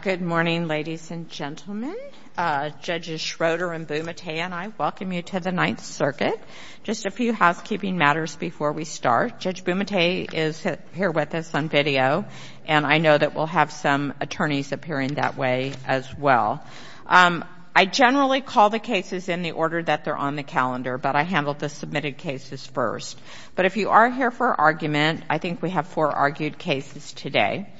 Good morning, ladies and gentlemen. Judges Schroeder and Bumate and I welcome you to the Ninth Circuit. Just a few housekeeping matters before we start. Judge Bumate is here with us on video, and I know that we'll have some attorneys appearing that way as well. I generally call the cases in the order that they're on the calendar, but I handle the I think we have four argued cases today.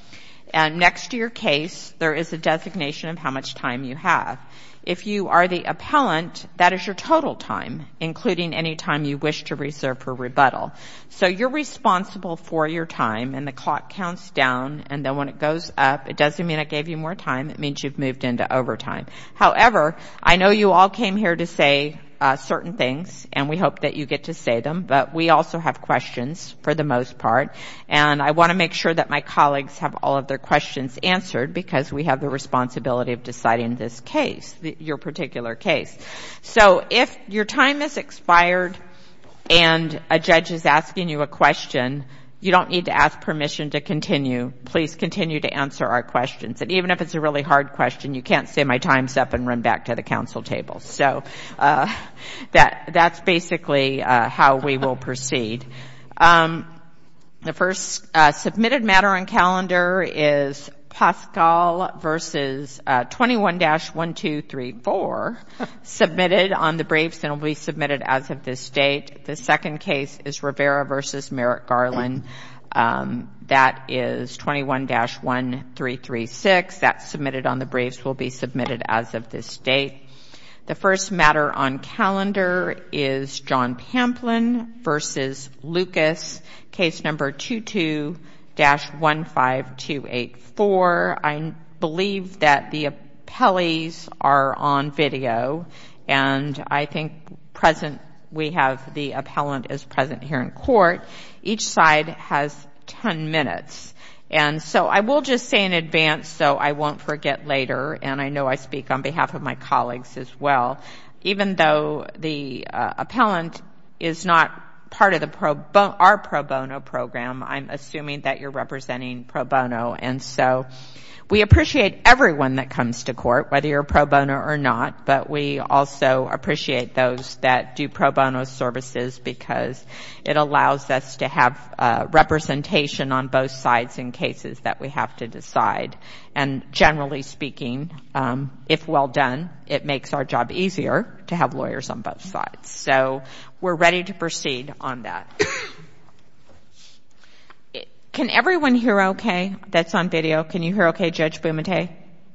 Next to your case, there is a designation of how much time you have. If you are the appellant, that is your total time, including any time you wish to reserve for rebuttal. So you're responsible for your time, and the clock counts down, and then when it goes up, it doesn't mean I gave you more time, it means you've moved into overtime. However, I know you all came here to say certain things, and we hope that you get to say them, but we also have questions for the most part, and I want to make sure that my colleagues have all of their questions answered, because we have the responsibility of deciding this case, your particular case. So if your time has expired and a judge is asking you a question, you don't need to ask permission to continue. Please continue to answer our questions, and even if it's a really hard question, you can't say my time's up and run back to the council table. So that's basically how we will proceed. The first submitted matter on calendar is Paschall v. 21-1234 submitted on the briefs and will be submitted as of this date. The second case is Rivera v. Merrick Garland. That is 21-1336. That's submitted on the briefs and will be submitted as of this date. The first matter on calendar is John Pamplin v. Lucas, case number 22-15284. I believe that the appellees are on video, and I think we have the appellant as present here in court. Each side has ten minutes, and so I will just say in advance so I won't forget later, and I know I speak on behalf of my colleagues as well, even though the appellant is not part of our pro bono program, I'm assuming that you're representing pro bono, and so we appreciate everyone that comes to court, whether you're pro bono or not, but we also have to have representation on both sides in cases that we have to decide, and generally speaking, if well done, it makes our job easier to have lawyers on both sides. So we're ready to proceed on that. Can everyone hear okay that's on video? Can you hear okay, Judge Bumate?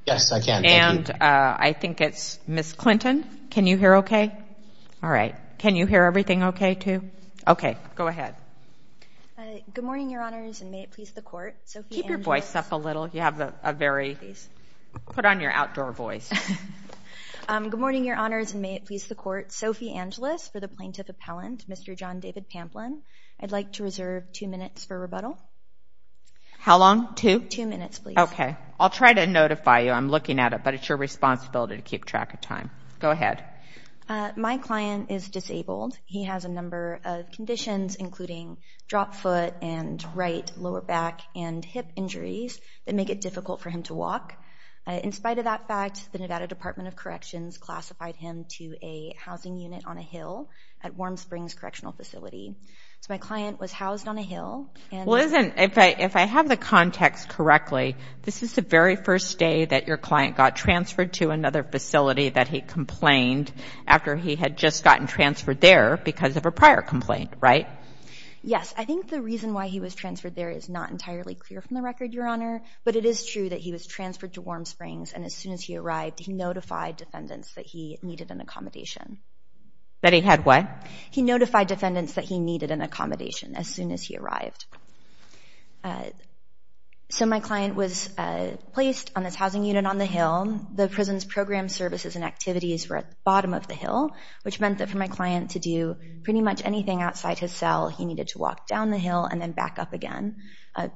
Yes, I can. Thank you. And I think it's Ms. Clinton. Can you hear okay? All right. Can you hear everything okay, too? Okay. Go ahead. Good morning, Your Honors, and may it please the court, Sophie Angelis. Keep your voice up a little. You have a very put on your outdoor voice. Good morning, Your Honors, and may it please the court, Sophie Angelis for the plaintiff appellant, Mr. John David Pamplin. I'd like to reserve two minutes for rebuttal. How long? Two? Two minutes, please. Okay. I'll try to notify you. I'm looking at it, but it's your responsibility to keep track of time. Go ahead. My client is disabled. He has a number of conditions, including dropped foot and right lower back and hip injuries that make it difficult for him to walk. In spite of that fact, the Nevada Department of Corrections classified him to a housing unit on a hill at Warm Springs Correctional Facility. So my client was housed on a hill and Well, isn't, if I have the context correctly, this is the very first day that your client got transferred to another facility that he complained after he had just gotten transferred there because of a prior complaint, right? Yes. I think the reason why he was transferred there is not entirely clear from the record, Your Honor, but it is true that he was transferred to Warm Springs, and as soon as he arrived, he notified defendants that he needed an accommodation. That he had what? He notified defendants that he needed an accommodation as soon as he arrived. So my client was placed on this housing unit and on the hill. The prison's program services and activities were at the bottom of the hill, which meant that for my client to do pretty much anything outside his cell, he needed to walk down the hill and then back up again.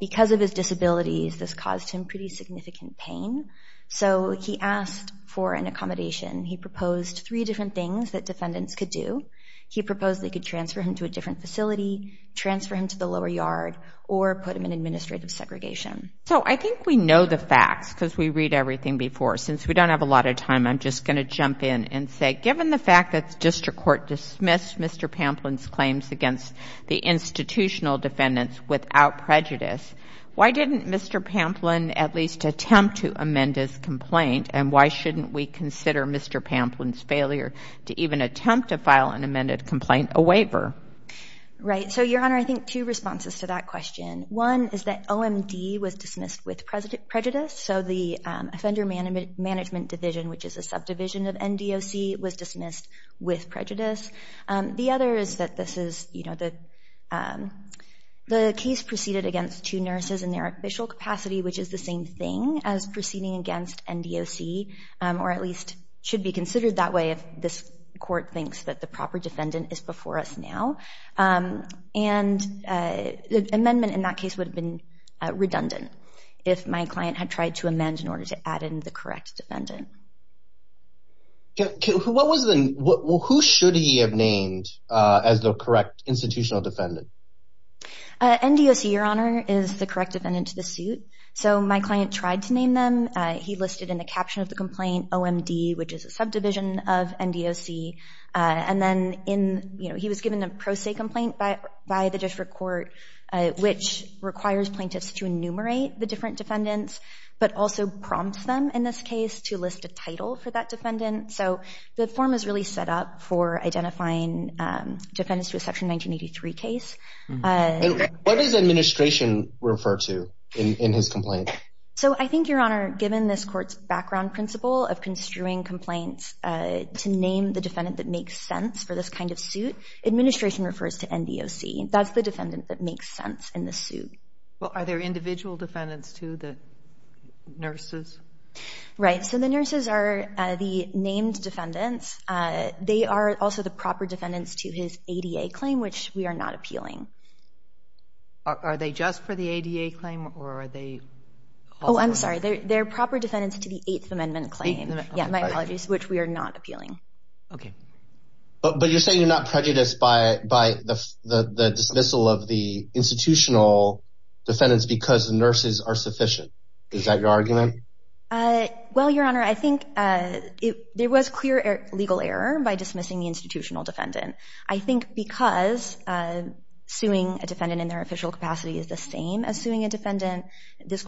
Because of his disabilities, this caused him pretty significant pain, so he asked for an accommodation. He proposed three different things that defendants could do. He proposed they could transfer him to a different facility, transfer him to the lower yard, or put him in administrative segregation. So I think we know the facts because we read everything before. Since we don't have a lot of time, I'm just going to jump in and say, given the fact that the district court dismissed Mr. Pamplin's claims against the institutional defendants without prejudice, why didn't Mr. Pamplin at least attempt to amend his complaint, and why shouldn't we consider Mr. Pamplin's failure to even attempt to file an amended complaint a waiver? Right. So, Your Honor, I think two responses to that question. One is that OMD was dismissed with prejudice, so the Offender Management Division, which is a subdivision of NDOC, was dismissed with prejudice. The other is that this is, you know, the case proceeded against two nurses in their official capacity, which is the same thing as proceeding against NDOC, or at least should be considered that way if this court thinks that the proper defendant is before us now. And the amendment in that case would have been redundant if my client had tried to amend in order to add in the correct defendant. What was the, who should he have named as the correct institutional defendant? NDOC, Your Honor, is the correct defendant to the suit. So my client tried to name them. He listed in the caption of the complaint, OMD, which is a subdivision of NDOC. And then in, you know, he was given a pro se complaint by the district court, which requires plaintiffs to enumerate the different defendants, but also prompts them in this case to list a title for that defendant. So the form is really set up for identifying defendants to a Section 1983 case. What does administration refer to in his complaint? So I think, Your Honor, given this court's background principle of construing complaints to name the defendant that makes sense for this kind of suit, administration refers to NDOC. That's the defendant that makes sense in the suit. Well, are there individual defendants, too, the nurses? Right. So the nurses are the named defendants. They are also the proper defendants to his ADA claim, which we are not appealing. Are they just for the ADA claim or are they? Oh, I'm sorry. They're proper defendants to the Eighth Amendment claim. Yeah, my apologies, which we are not appealing. OK. But you're saying you're not prejudiced by the dismissal of the institutional defendants because the nurses are sufficient. Is that your argument? Well, Your Honor, I think there was clear legal error by dismissing the institutional defendant. I think because suing a defendant in their official capacity is the same as suing a nurse. It is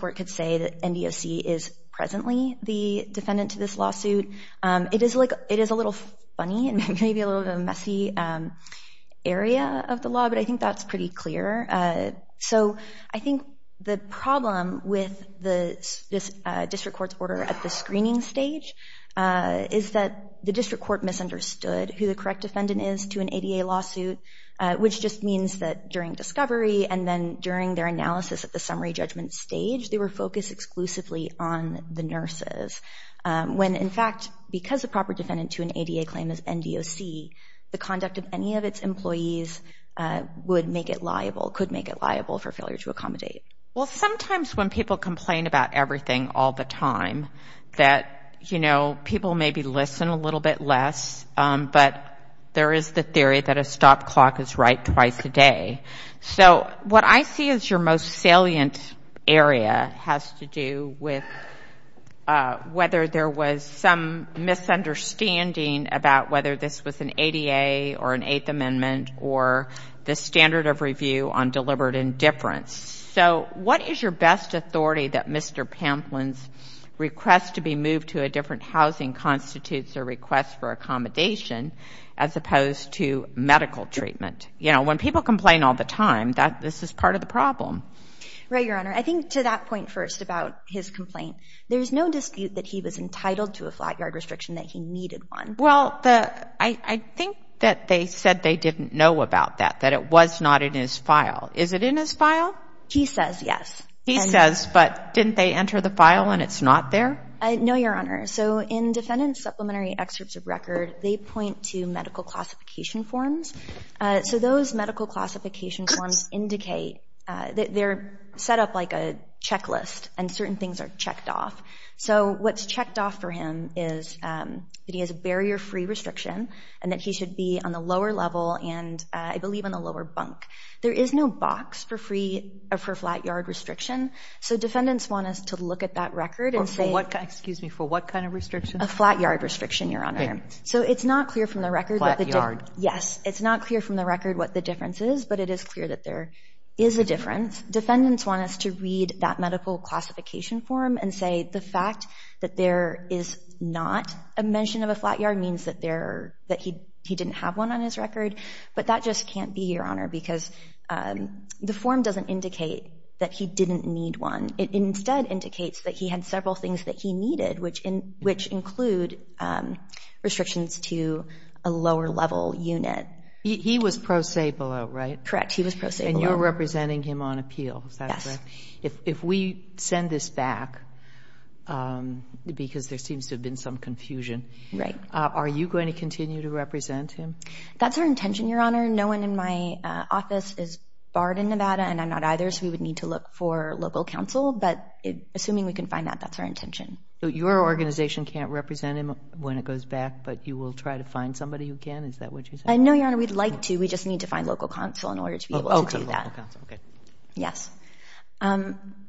a little funny and maybe a little messy area of the law, but I think that's pretty clear. So I think the problem with the district court's order at the screening stage is that the district court misunderstood who the correct defendant is to an ADA lawsuit, which just means that during discovery and then during their analysis at the summary judgment stage, they were focused exclusively on the nurses when, in fact, because the proper defendant to an ADA claim is NDOC, the conduct of any of its employees would make it liable, could make it liable for failure to accommodate. Well, sometimes when people complain about everything all the time that, you know, people maybe listen a little bit less, but there is the theory that a stop clock is right twice a day. So what I see as your most salient area has to do with whether there was some misunderstanding about whether this was an ADA or an Eighth Amendment or the standard of review on deliberate indifference. So what is your best authority that Mr. Pamplin's request to be moved to a different housing constitutes a request for accommodation as opposed to medical treatment? You know, when people complain all the time, this is part of the problem. Right, Your Honor. I think to that point first about his complaint, there's no dispute that he was entitled to a flat yard restriction, that he needed one. Well, I think that they said they didn't know about that, that it was not in his file. Is it in his file? He says yes. He says, but didn't they enter the file and it's not there? No, Your Honor. So in defendant's supplementary excerpts of record, they point to medical classification forms. So those medical classification forms indicate that they're set up like a checklist and certain things are checked off. So what's checked off for him is that he has a barrier-free restriction and that he should be on the lower level and I believe on the lower bunk. There is no box for free or for flat yard restriction. So defendants want us to look at that record and say Excuse me, for what kind of restriction? A flat yard restriction, Your Honor. So it's not clear from the record Flat yard. Yes. It's not clear from the record what the difference is, but it is clear that there is a difference. Defendants want us to read that medical classification form and say the fact that there is not a mention of a flat yard means that he didn't have one on his record. But that just can't be, Your Honor, because the form doesn't indicate that he didn't need one. It instead indicates that he had several things that he needed, which include restrictions to a lower level unit. He was pro se below, right? Correct. He was pro se below. And you're representing him on appeal. Is that correct? Yes. If we send this back, because there seems to have been some confusion, are you going to continue to represent him? That's our intention, Your Honor. No one in my office is barred in Nevada and I'm not either, so we would need to look for local counsel. But assuming we can find that, that's our intention. So your organization can't represent him when it goes back, but you will try to find somebody who can? Is that what you're saying? No, Your Honor. We'd like to. We just need to find local counsel in order to be able to do that. Oh, to local counsel. Okay. Yes.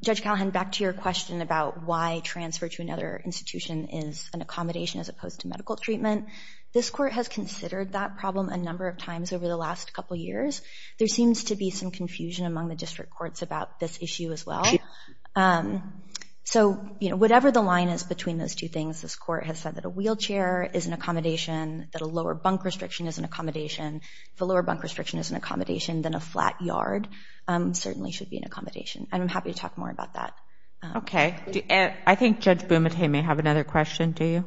Judge Callahan, back to your question about why transfer to another institution is an accommodation as opposed to medical treatment. This Court has considered that problem a number of times over the last couple of years. There seems to be some confusion among the District Courts about this issue as well. So whatever the line is between those two things, this Court has said that a wheelchair is an accommodation, that a lower bunk restriction is an accommodation. If a lower bunk restriction is an accommodation, then a flat yard certainly should be an accommodation. And I'm happy to talk more about that. Okay. I think Judge Bumate may have another question. Do you?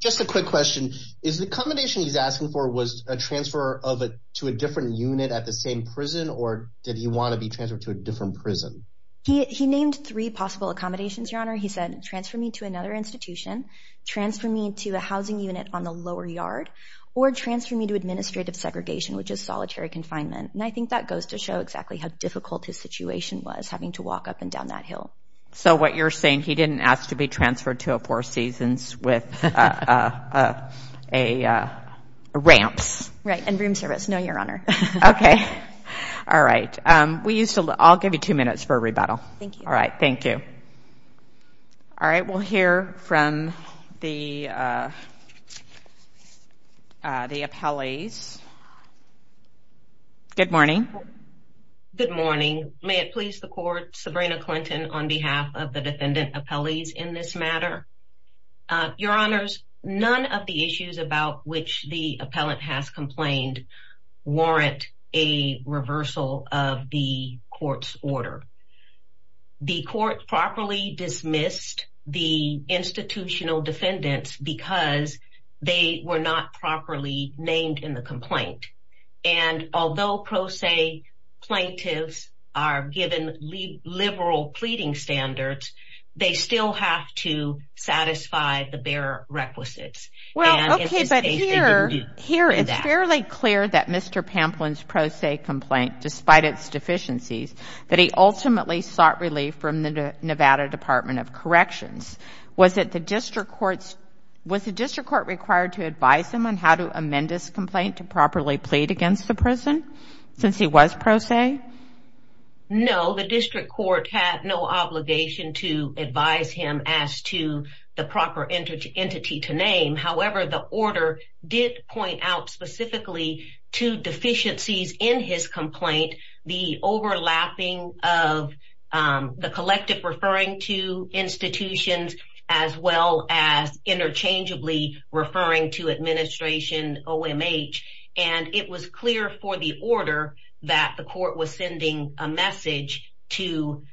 Just a quick question. Is the accommodation he's asking for a transfer to a different unit at the same prison, or did he want to be transferred to a different prison? He named three possible accommodations, Your Honor. He said, transfer me to another institution, transfer me to a housing unit on the lower yard, or transfer me to administrative segregation, which is solitary confinement. And I think that goes to show exactly how difficult his situation was, having to walk up and down that hill. So what you're saying, he didn't ask to be transferred to a Four Seasons with ramps. Right. And room service. No, Your Honor. Okay. All right. We used to... I'll give you two minutes for a rebuttal. Thank you. All right. Thank you. All right. We'll hear from the appellees. Good morning. Good morning. May it please the Court, Sabrina Clinton on behalf of the defendant appellees in this matter. Your Honors, none of the issues about which the appellant has complained warrant a reversal of the court's order. The court properly dismissed the institutional defendants because they were not properly named in the complaint. And although pro se plaintiffs are given liberal pleading standards, they still have to satisfy the bare requisites. Well, okay, but here it's fairly clear that Mr. Pamplin's pro se complaint, despite its deficiencies, that he ultimately sought relief from the Nevada Department of Corrections. Was it the district court's... Was the district court required to advise him on how to amend this complaint to properly plead against the person since he was pro se? No, the district court had no obligation to advise him as to the proper entity to name. However, the order did point out specifically two deficiencies in his complaint, the overlapping of the collective referring to institutions as well as interchangeably referring to administration OMH. And it was clear for the order that the court was sending a message to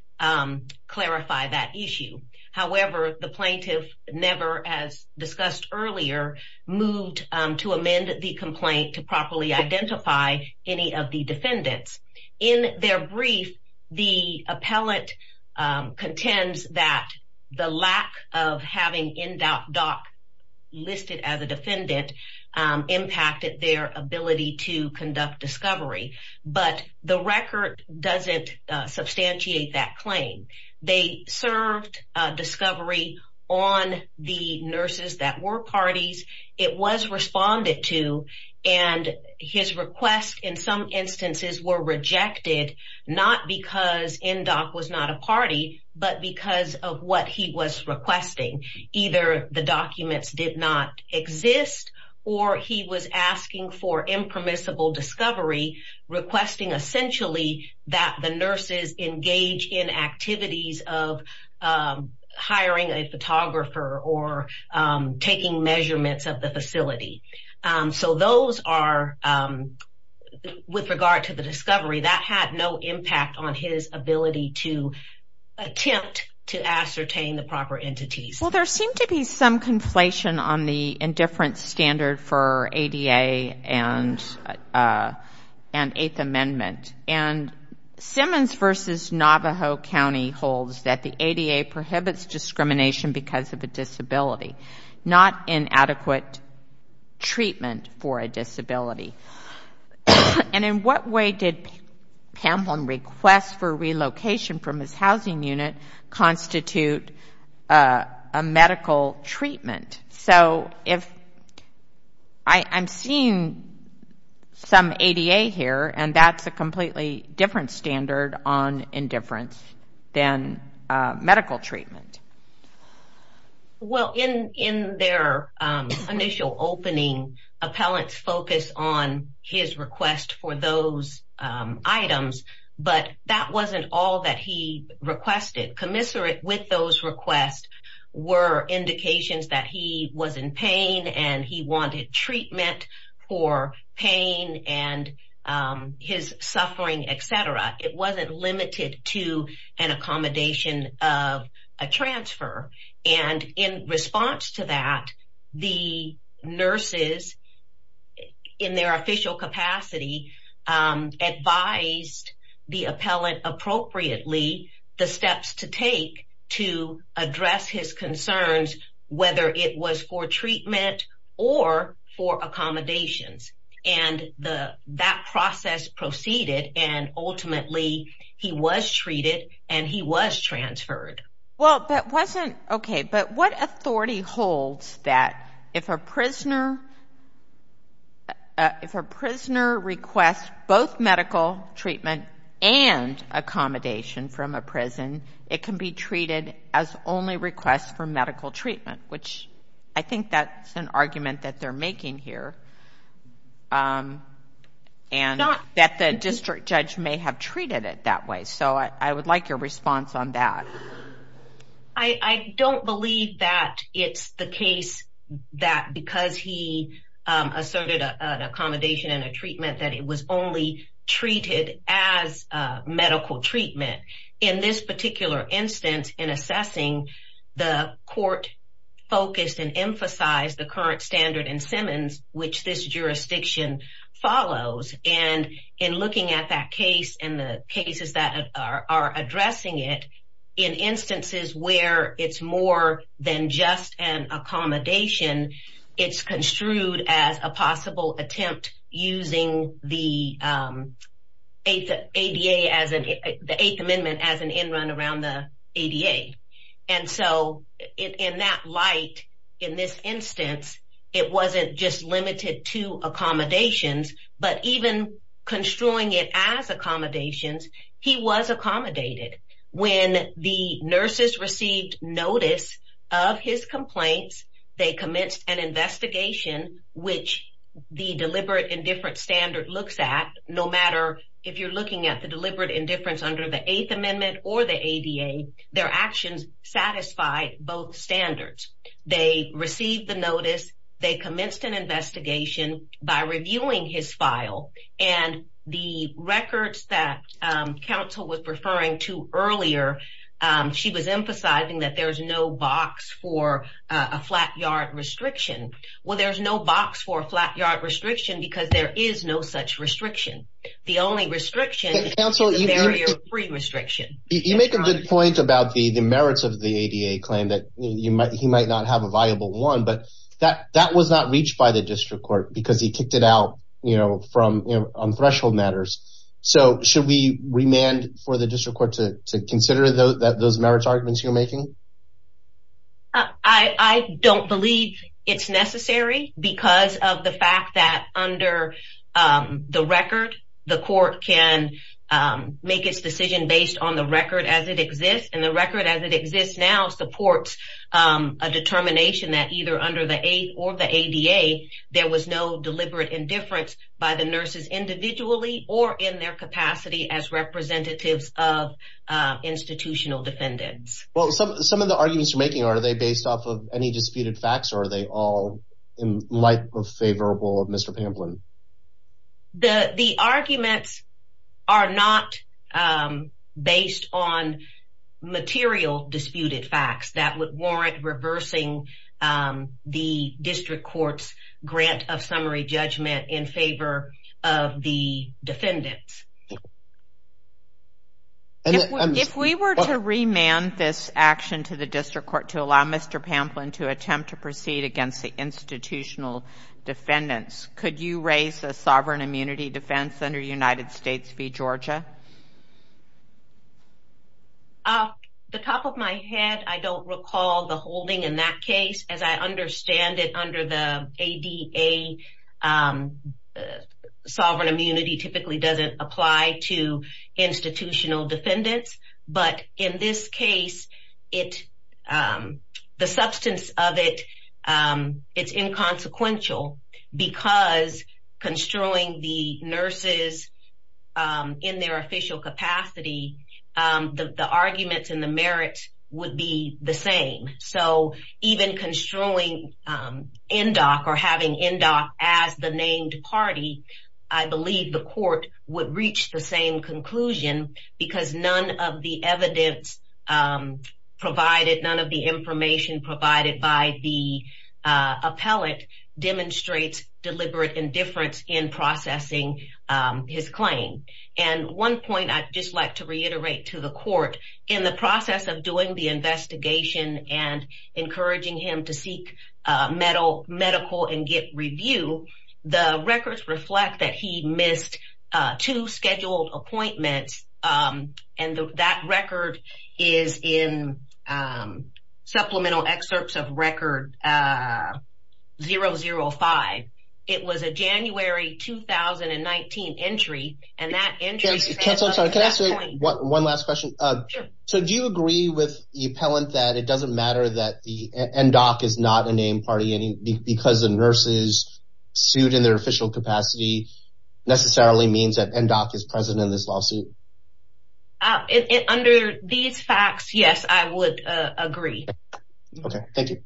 clarify that issue. However, the plaintiff never, as discussed earlier, moved to amend the complaint to properly identify any of the defendants. In their brief, the appellate contends that the lack of having NDOC listed as a defendant impacted their ability to conduct discovery. But the record doesn't substantiate that claim. They served discovery on the nurses that were parties. It was responded to, and his requests, in some instances, were rejected, not because of what he was requesting. Either the documents did not exist, or he was asking for impermissible discovery, requesting essentially that the nurses engage in activities of hiring a photographer or taking measurements of the facility. So those are... With regard to the discovery, that had no impact on his ability to attempt to ascertain the proper entities. Well, there seemed to be some conflation on the indifference standard for ADA and Eighth Amendment. And Simmons v. Navajo County holds that the ADA prohibits discrimination because of a disability, not inadequate treatment for a disability. And in what way did people Pamplin request for relocation from his housing unit constitute a medical treatment? So if... I'm seeing some ADA here, and that's a completely different standard on indifference than medical treatment. Well, in their initial opening, appellants focused on his request for those items, but that wasn't all that he requested. Commiserate with those requests were indications that he was in pain and he wanted treatment for pain and his suffering, et cetera. It wasn't limited to an accommodation of a transfer. And in response to that, the nurses in their official capacity advised the appellant appropriately the steps to take to address his concerns, whether it was for treatment or for accommodations. And that process proceeded and ultimately he was treated and he was transferred. Well, that wasn't... Okay, but what authority holds that if a prisoner requests both medical treatment and accommodation from a prison, it can be treated as only requests for medical treatment, which I think that's an argument that they're making here, and that the district judge may have treated it that way. So I would like your response on that. I don't believe that it's the case that because he asserted an accommodation and a treatment that it was only treated as a medical treatment. In this particular instance, in assessing the court focused and emphasized the current standard in Simmons, which this jurisdiction follows. And in looking at that case and the cases that are addressing it, in instances where it's more than just an accommodation, it's construed as a possible attempt using the Eighth Amendment as an end run around the ADA. And so in that light, in this instance, it wasn't just limited to accommodations, but even construing it as accommodations, he was accommodated. When the nurses received notice of his complaints, they commenced an investigation which the deliberate indifference standard looks at, no matter if you're looking at the deliberate indifference under the Eighth Amendment or the ADA, their actions satisfied both standards. They received the notice, they commenced an investigation by reviewing his file, and the records that counsel was referring to earlier, she was emphasizing that there's no box for a flat yard restriction. Well, there's no box for a flat yard restriction because there is no such restriction. The only restriction is a barrier-free restriction. You make a good point about the merits of the ADA claim that he might not have a viable one, but that was not reached by the district court because he kicked it out on threshold matters. So, should we remand for the district court to consider those merits arguments you're making? I don't believe it's necessary because of the fact that under the record, the court can make its decision based on the record as it exists, and the record as it exists now supports a determination that either under the Eighth or the ADA, there was no deliberate indifference by the nurses individually or in their capacity as representatives of institutional defendants. Well, some of the arguments you're making, are they based off of any disputed facts, or are they all in light of favorable of Mr. Pamplin? The arguments are not based on material disputed facts that would warrant reversing the district court's grant of summary judgment in favor of the defendants. If we were to remand this action to the district court, we would require Mr. Pamplin to attempt to proceed against the institutional defendants. Could you raise a sovereign immunity defense under United States v. Georgia? Off the top of my head, I don't recall the holding in that case. As I understand it, under the ADA, sovereign immunity typically doesn't apply to institutional defendants, but in this case, the substance of it, it's inconsequential because construing the nurses in their official capacity, the arguments and the merits would be the same. Even construing NDOC or having NDOC as the named party, I believe the court would reach the same conclusion because none of the evidence provided, none of the information provided by the appellate demonstrates deliberate indifference in processing his claim. One point I'd just like to reiterate to the court, in the process of doing the investigation and encouraging him to seek medical and get review, the records reflect that he missed two scheduled appointments, and the records that record is in supplemental excerpts of record 005. It was a January 2019 entry, and that entry... One last question. Do you agree with the appellant that it doesn't matter that the NDOC is not a named party because the nurses sued in their official capacity necessarily means that NDOC is present in this lawsuit? Under these facts, yes, I would agree. Okay. Thank you.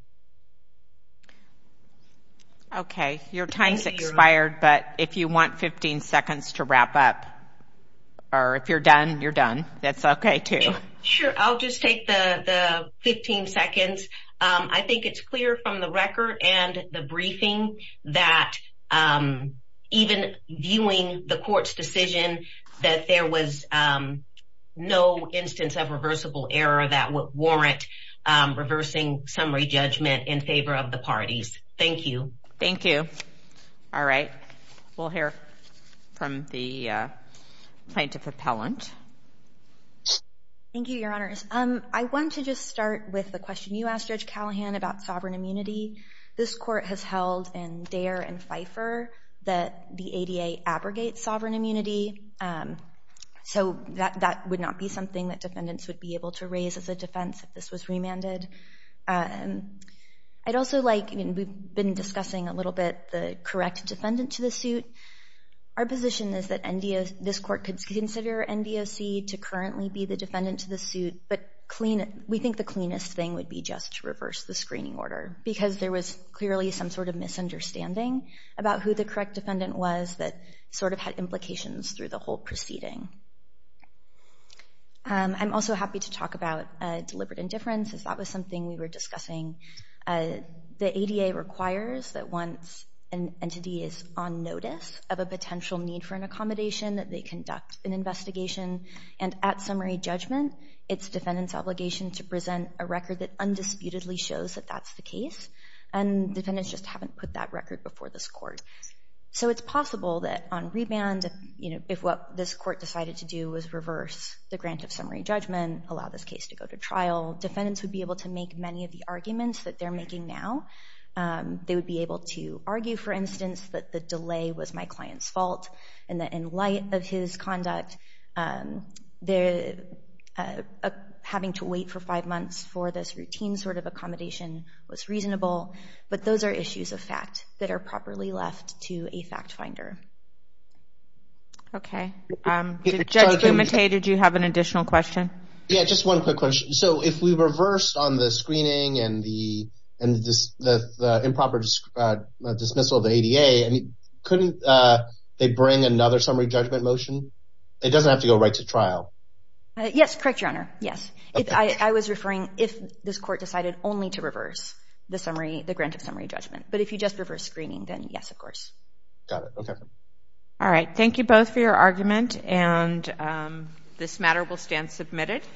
Okay. Your time's expired, but if you want 15 seconds to wrap up, or if you're done, you're done. That's okay too. Sure. I'll just take the 15 seconds. I think it's clear from the record and the briefing that even viewing the court's decision that there was no instance of reversible error that would warrant reversing summary judgment in favor of the parties. Thank you. Thank you. All right. We'll hear from the plaintiff appellant. Thank you, Your Honors. I want to just start with the question you asked Judge Callahan about sovereign immunity. This court has held in Dare and Feifer that the ADA abrogates sovereign immunity, so that would not be something that defendants would be able to raise as a defense if this was remanded. We've been discussing a little bit the correct defendant to the suit. Our position is that this court could consider NDOC to currently be the defendant to the suit, but we think the cleanest thing would be just to reverse the screening order because there was clearly some sort of misunderstanding about who the correct defendant was that sort of had implications through the whole proceeding. I'm also happy to talk about deliberate indifference as that was something we were discussing. The ADA requires that once an entity is on notice of a potential need for an accommodation that they conduct an investigation, and at summary judgment, it's defendant's obligation to present a record that undisputedly shows that that's the case, and defendants just haven't put that record before this court. So it's possible that on remand, if what this court decided to do was reverse the grant of summary judgment, allow this case to go to trial, defendants would be able to make many of the arguments that they're making now. They would be able to argue, for instance, that the delay was my client's fault and that in light of his conduct, having to wait for five months for this routine sort of accommodation was reasonable, but those are issues of fact that are properly left to a fact finder. Okay. Judge Gumete, did you have an additional question? Yeah, just one quick question. So if we reversed on the screening and the improper dismissal of the ADA, couldn't they bring another summary judgment motion? It doesn't have to go right to trial. Yes, correct, Your Honor. Yes. I was referring if this court decided only to reverse the grant of summary judgment, but if you just reverse screening, then yes, of course. Got it. Okay. All right. Thank you both for your argument, and this matter will stand submitted.